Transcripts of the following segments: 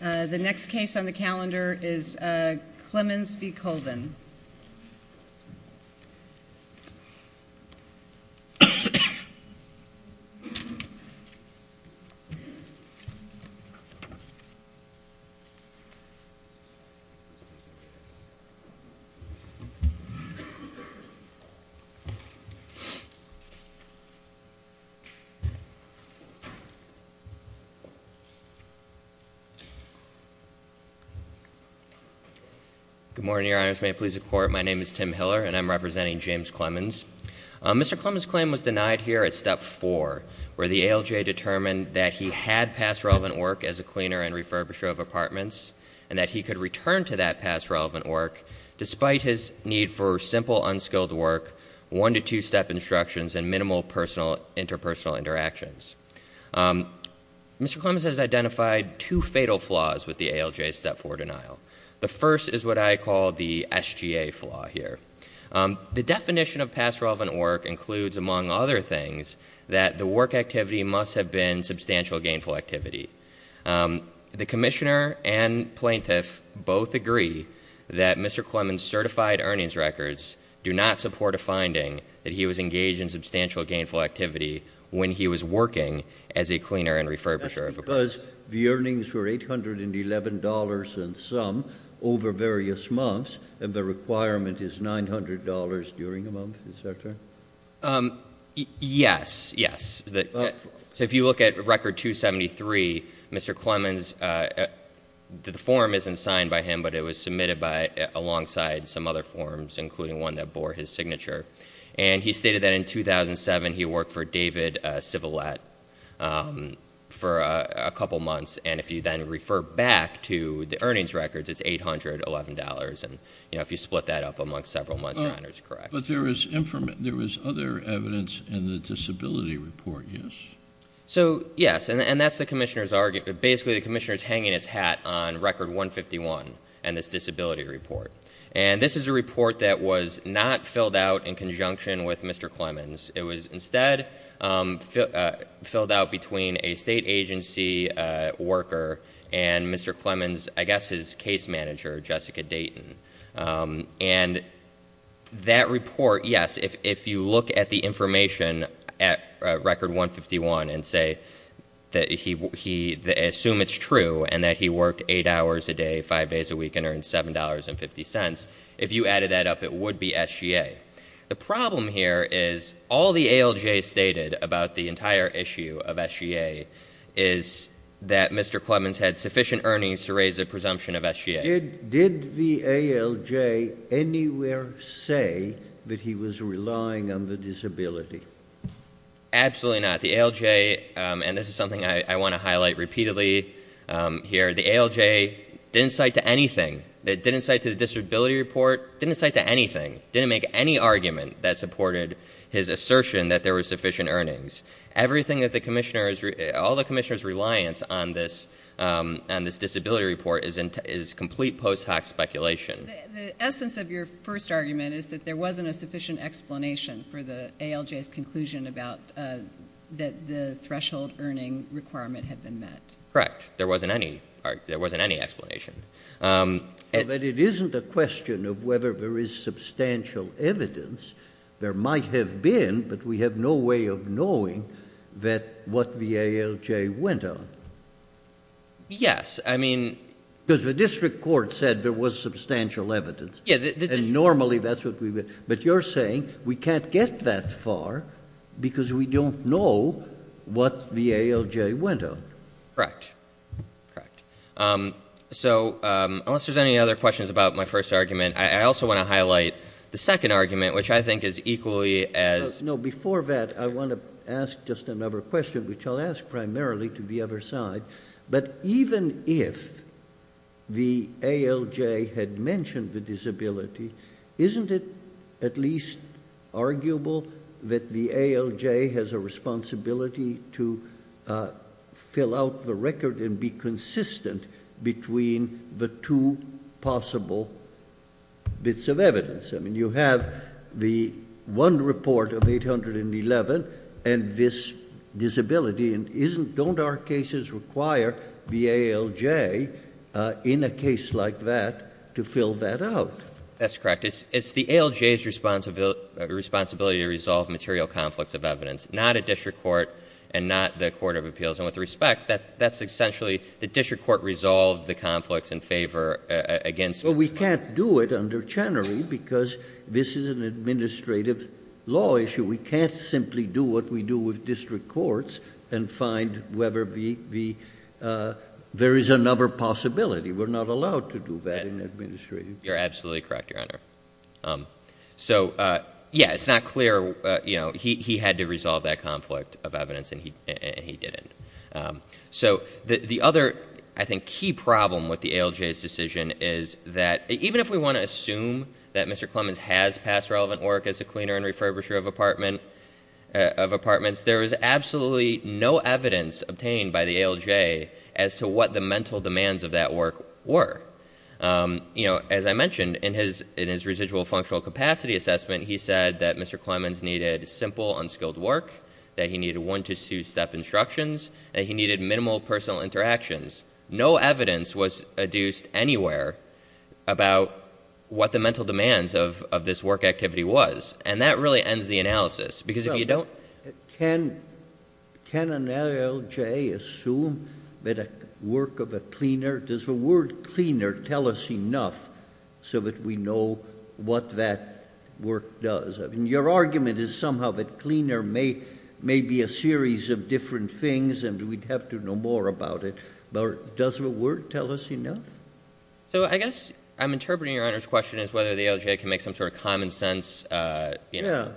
The next case on the calendar is Klemens v. Colvin. Good morning, Your Honors. May it please the Court, my name is Tim Hiller, and I'm representing James Klemens. Mr. Klemens' claim was denied here at Step 4, where the ALJ determined that he had past relevant work as a cleaner and refurbisher of apartments, and that he could return to that past relevant work despite his need for simple, unskilled work, one- to two-step instructions, and minimal interpersonal interactions. Mr. Klemens has identified two fatal flaws with the ALJ's Step 4 denial. The first is what I call the SGA flaw here. The definition of past relevant work includes, among other things, that the work activity must have been substantial gainful activity. The commissioner and plaintiff both agree that Mr. Klemens' certified earnings records do not support a finding that he was engaged in substantial gainful activity when he was working as a cleaner and refurbisher of apartments. That's because the earnings were $811 and some over various months, and the requirement is $900 during a month, is that correct? Yes, yes. So if you look at Record 273, Mr. Klemens, the form isn't signed by him, but it was submitted alongside some other forms, including one that bore his signature. And he stated that in 2007, he worked for David Civilet for a couple months, and if you then refer back to the earnings records, it's $811. And if you split that up amongst several months, $900 is correct. But there was other evidence in the disability report, yes? So, yes, and that's the commissioner's argument. Basically, the commissioner's hanging his hat on Record 151 and this disability report. And this is a report that was not filled out in conjunction with Mr. Klemens. It was instead filled out between a state agency worker and Mr. Klemens, I guess his case manager, Jessica Dayton. And that report, yes, if you look at the information at Record 151 and assume it's true, and that he worked eight hours a day, five days a week, and earned $7.50, if you added that up, it would be SGA. The problem here is all the ALJ stated about the entire issue of SGA is that Mr. Klemens had sufficient earnings to raise a presumption of SGA. Did the ALJ anywhere say that he was relying on the disability? Absolutely not. The ALJ, and this is something I want to highlight repeatedly here, the ALJ didn't cite to anything. It didn't cite to the disability report, didn't cite to anything, didn't make any argument that supported his assertion that there were sufficient earnings. Everything that the commissioner, all the commissioner's reliance on this disability report is complete post hoc speculation. The essence of your first argument is that there wasn't a sufficient explanation for the ALJ's conclusion that the threshold earning requirement had been met. Correct. There wasn't any explanation. But it isn't a question of whether there is substantial evidence. There might have been, but we have no way of knowing that what the ALJ went on. Yes, I mean. Because the district court said there was substantial evidence. Yeah. And normally that's what we would, but you're saying we can't get that far because we don't know what the ALJ went on. Correct. Correct. So unless there's any other questions about my first argument, I also want to highlight the second argument, which I think is equally as. No, before that, I want to ask just another question, which I'll ask primarily to the other side. But even if the ALJ had mentioned the disability, isn't it at least arguable that the ALJ has a responsibility to fill out the record and be consistent between the two possible bits of evidence? I mean, you have the one report of 811 and this disability. Don't our cases require the ALJ in a case like that to fill that out? That's correct. It's the ALJ's responsibility to resolve material conflicts of evidence, not a district court and not the court of appeals. And with respect, that's essentially the district court resolved the conflicts in favor against. Well, we can't do it under Chenery because this is an administrative law issue. We can't simply do what we do with district courts and find whether there is another possibility. We're not allowed to do that in administration. You're absolutely correct, Your Honor. So, yeah, it's not clear. He had to resolve that conflict of evidence and he didn't. So the other, I think, key problem with the ALJ's decision is that even if we want to assume that Mr. Clemens has passed relevant work as a cleaner and refurbisher of apartments, there is absolutely no evidence obtained by the ALJ as to what the mental demands of that work were. As I mentioned, in his residual functional capacity assessment, he said that Mr. Clemens needed two-step instructions, that he needed minimal personal interactions. No evidence was adduced anywhere about what the mental demands of this work activity was. And that really ends the analysis, because if you don't- Can an ALJ assume that a work of a cleaner, does the word cleaner tell us enough so that we know what that work does? I mean, your argument is somehow that cleaner may be a series of different things and we'd have to know more about it. But does the word tell us enough? So I guess I'm interpreting Your Honor's question as whether the ALJ can make some sort of common sense. Yeah.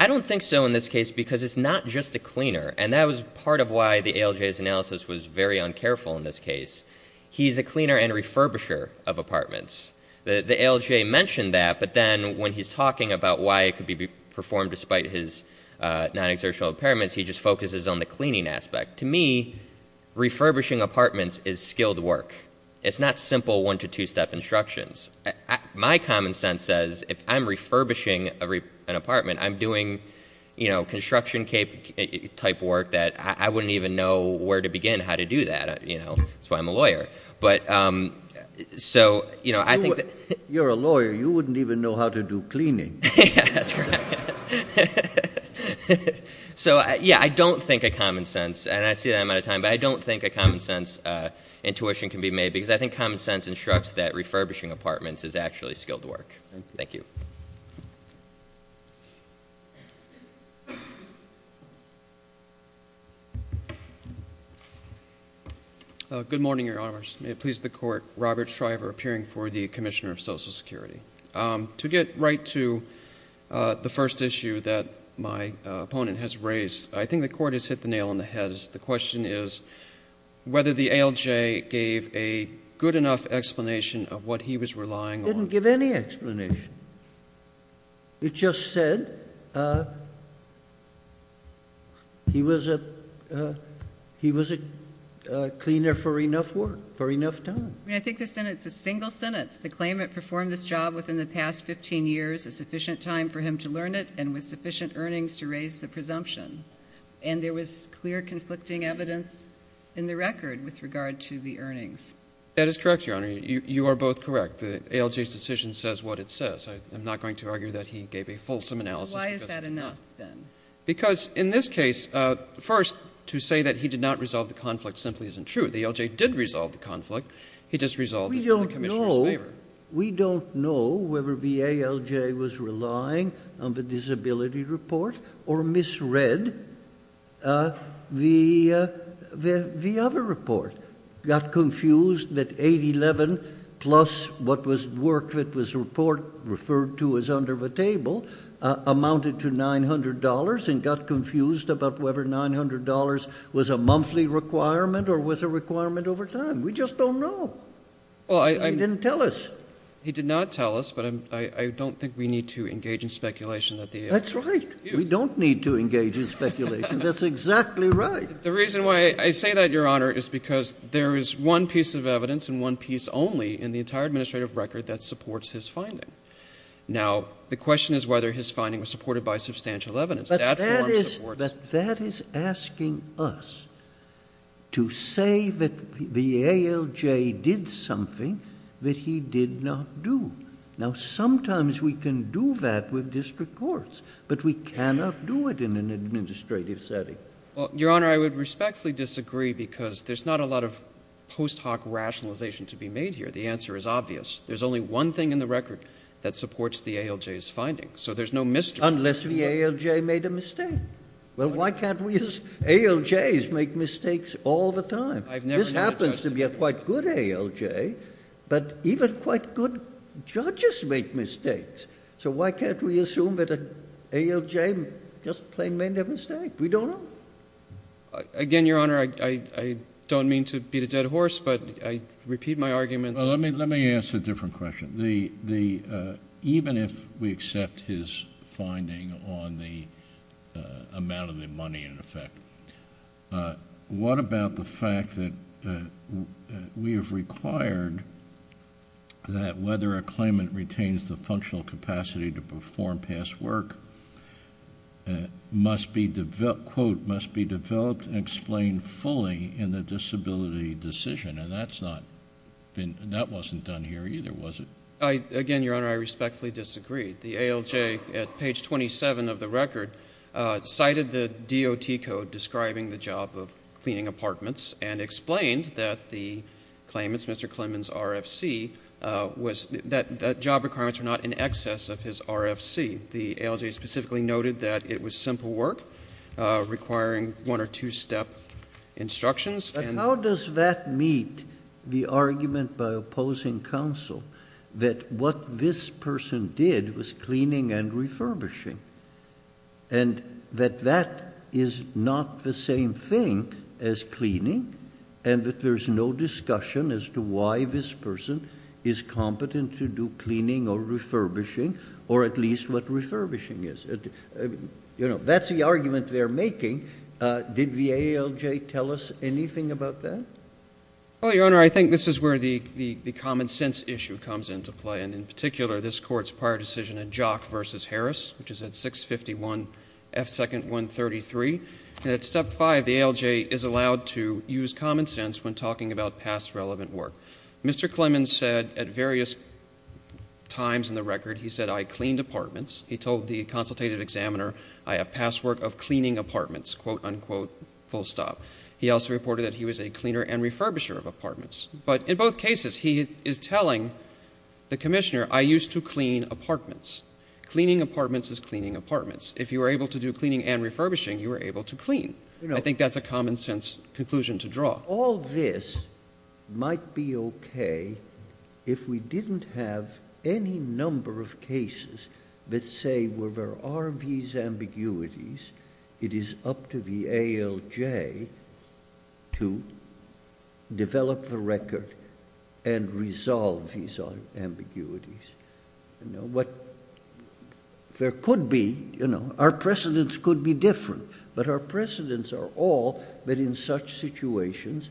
I don't think so in this case, because it's not just a cleaner. And that was part of why the ALJ's analysis was very uncareful in this case. He's a cleaner and refurbisher of apartments. The ALJ mentioned that, but then when he's talking about why it could be performed despite his non-exertional impairments, he just focuses on the cleaning aspect. To me, refurbishing apartments is skilled work. It's not simple one- to two-step instructions. My common sense says if I'm refurbishing an apartment, I'm doing construction-type work that I wouldn't even know where to begin how to do that. That's why I'm a lawyer. You're a lawyer. You wouldn't even know how to do cleaning. That's right. So, yeah, I don't think a common sense, and I see that I'm out of time, but I don't think a common sense intuition can be made because I think common sense instructs that refurbishing apartments is actually skilled work. Thank you. Thank you. Good morning, Your Honors. May it please the Court, Robert Shriver appearing for the Commissioner of Social Security. To get right to the first issue that my opponent has raised, I think the Court has hit the nail on the head. The question is whether the ALJ gave a good enough explanation of what he was relying on. I didn't give any explanation. It just said he was a cleaner for enough work, for enough time. I mean, I think the sentence is a single sentence, the claimant performed this job within the past 15 years, a sufficient time for him to learn it, and with sufficient earnings to raise the presumption. And there was clear conflicting evidence in the record with regard to the earnings. That is correct, Your Honor. You are both correct. The ALJ's decision says what it says. I'm not going to argue that he gave a fulsome analysis because he did not. Why is that enough, then? Because in this case, first, to say that he did not resolve the conflict simply isn't true. The ALJ did resolve the conflict. He just resolved it in the Commissioner's favor. We don't know whether the ALJ was relying on the disability report or misread the other report, got confused that 811 plus what was work that was referred to as under the table amounted to $900, and got confused about whether $900 was a monthly requirement or was a requirement over time. We just don't know. He didn't tell us. He did not tell us, but I don't think we need to engage in speculation. That's right. We don't need to engage in speculation. That's exactly right. The reason why I say that, Your Honor, is because there is one piece of evidence and one piece only in the entire administrative record that supports his finding. Now, the question is whether his finding was supported by substantial evidence. But that is asking us to say that the ALJ did something that he did not do. Now, sometimes we can do that with district courts, but we cannot do it in an administrative setting. Well, Your Honor, I would respectfully disagree because there's not a lot of post hoc rationalization to be made here. The answer is obvious. There's only one thing in the record that supports the ALJ's findings, so there's no mystery. Unless the ALJ made a mistake. Well, why can't we as ALJs make mistakes all the time? This happens to be a quite good ALJ, but even quite good judges make mistakes. So why can't we assume that an ALJ just plain made a mistake? We don't know. Again, Your Honor, I don't mean to beat a dead horse, but I repeat my argument. Let me ask a different question. Even if we accept his finding on the amount of the money, in effect, what about the fact that we have required that whether a claimant retains the functional capacity to perform past work must be developed and explained fully in the disability decision? And that's not been, that wasn't done here either, was it? Again, Your Honor, I respectfully disagree. The ALJ at page 27 of the record cited the DOT code describing the job of cleaning apartments and explained that the claimant's, Mr. Klinman's, RFC was, that job requirements were not in excess of his RFC. The ALJ specifically noted that it was simple work requiring one or two step instructions. But how does that meet the argument by opposing counsel that what this person did was cleaning and refurbishing and that that is not the same thing as cleaning and that there's no discussion as to why this person is competent to do cleaning or refurbishing or at least what refurbishing is? You know, that's the argument they're making. Did the ALJ tell us anything about that? Oh, Your Honor, I think this is where the common sense issue comes into play. And in particular, this Court's prior decision in Jock v. Harris, which is at 651 F. 2nd, 133. And at Step 5, the ALJ is allowed to use common sense when talking about past relevant work. Mr. Klinman said at various times in the record, he said, I cleaned apartments. He told the consultative examiner, I have past work of cleaning apartments, quote, unquote, full stop. He also reported that he was a cleaner and refurbisher of apartments. But in both cases, he is telling the Commissioner, I used to clean apartments. Cleaning apartments is cleaning apartments. If you were able to do cleaning and refurbishing, you were able to clean. I think that's a common sense conclusion to draw. Now, all this might be okay if we didn't have any number of cases that say, well, there are these ambiguities. It is up to the ALJ to develop the record and resolve these ambiguities. You know, what there could be, you know, our precedents could be different. But our precedents are all that in such situations,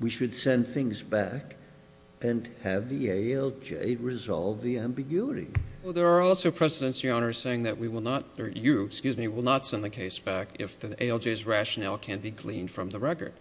we should send things back and have the ALJ resolve the ambiguity. Well, there are also precedents, Your Honor, saying that we will not, or you, excuse me, will not send the case back if the ALJ's rationale can be gleaned from the record.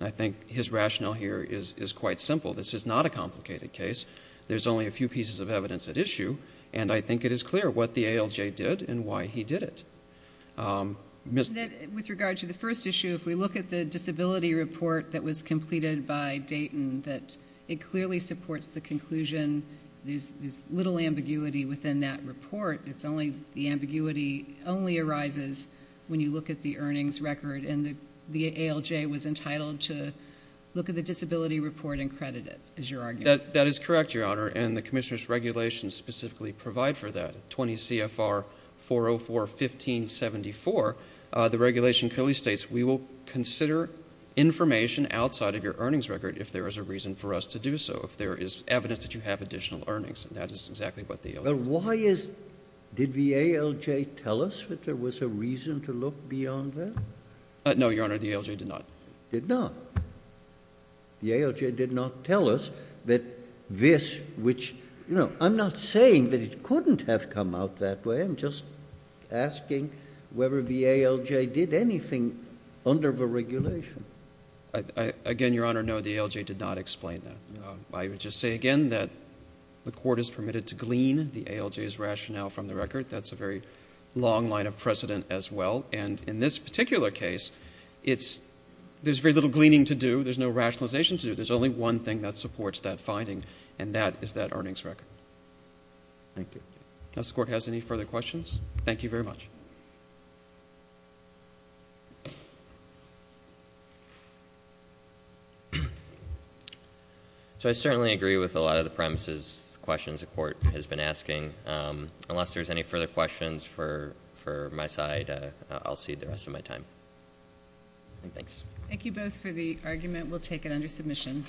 I think his rationale here is quite simple. This is not a complicated case. There's only a few pieces of evidence at issue. And I think it is clear what the ALJ did and why he did it. Ms. With regard to the first issue, if we look at the disability report that was completed by Dayton, that it clearly supports the conclusion there's little ambiguity within that report. It's only the ambiguity only arises when you look at the earnings record. And the ALJ was entitled to look at the disability report and credit it, is your argument. That is correct, Your Honor. And the commissioner's regulations specifically provide for that. 20 CFR 404-1574, the regulation clearly states we will consider information outside of your earnings record if there is a reason for us to do so, if there is evidence that you have additional earnings. And that is exactly what the ALJ did. But why is the ALJ tell us that there was a reason to look beyond that? No, Your Honor, the ALJ did not. Did not? The ALJ did not tell us that this, which, you know, I'm not saying that it couldn't have come out that way. I'm just asking whether the ALJ did anything under the regulation. Again, Your Honor, no, the ALJ did not explain that. I would just say again that the court is permitted to glean the ALJ's rationale from the record. That's a very long line of precedent as well. And in this particular case, there's very little gleaning to do. There's no rationalization to do. There's only one thing that supports that finding, and that is that earnings record. Thank you. Does the court have any further questions? Thank you very much. So I certainly agree with a lot of the premises questions the court has been asking. Unless there's any further questions for my side, I'll cede the rest of my time. Thanks. Thank you both for the argument. We'll take it under submission.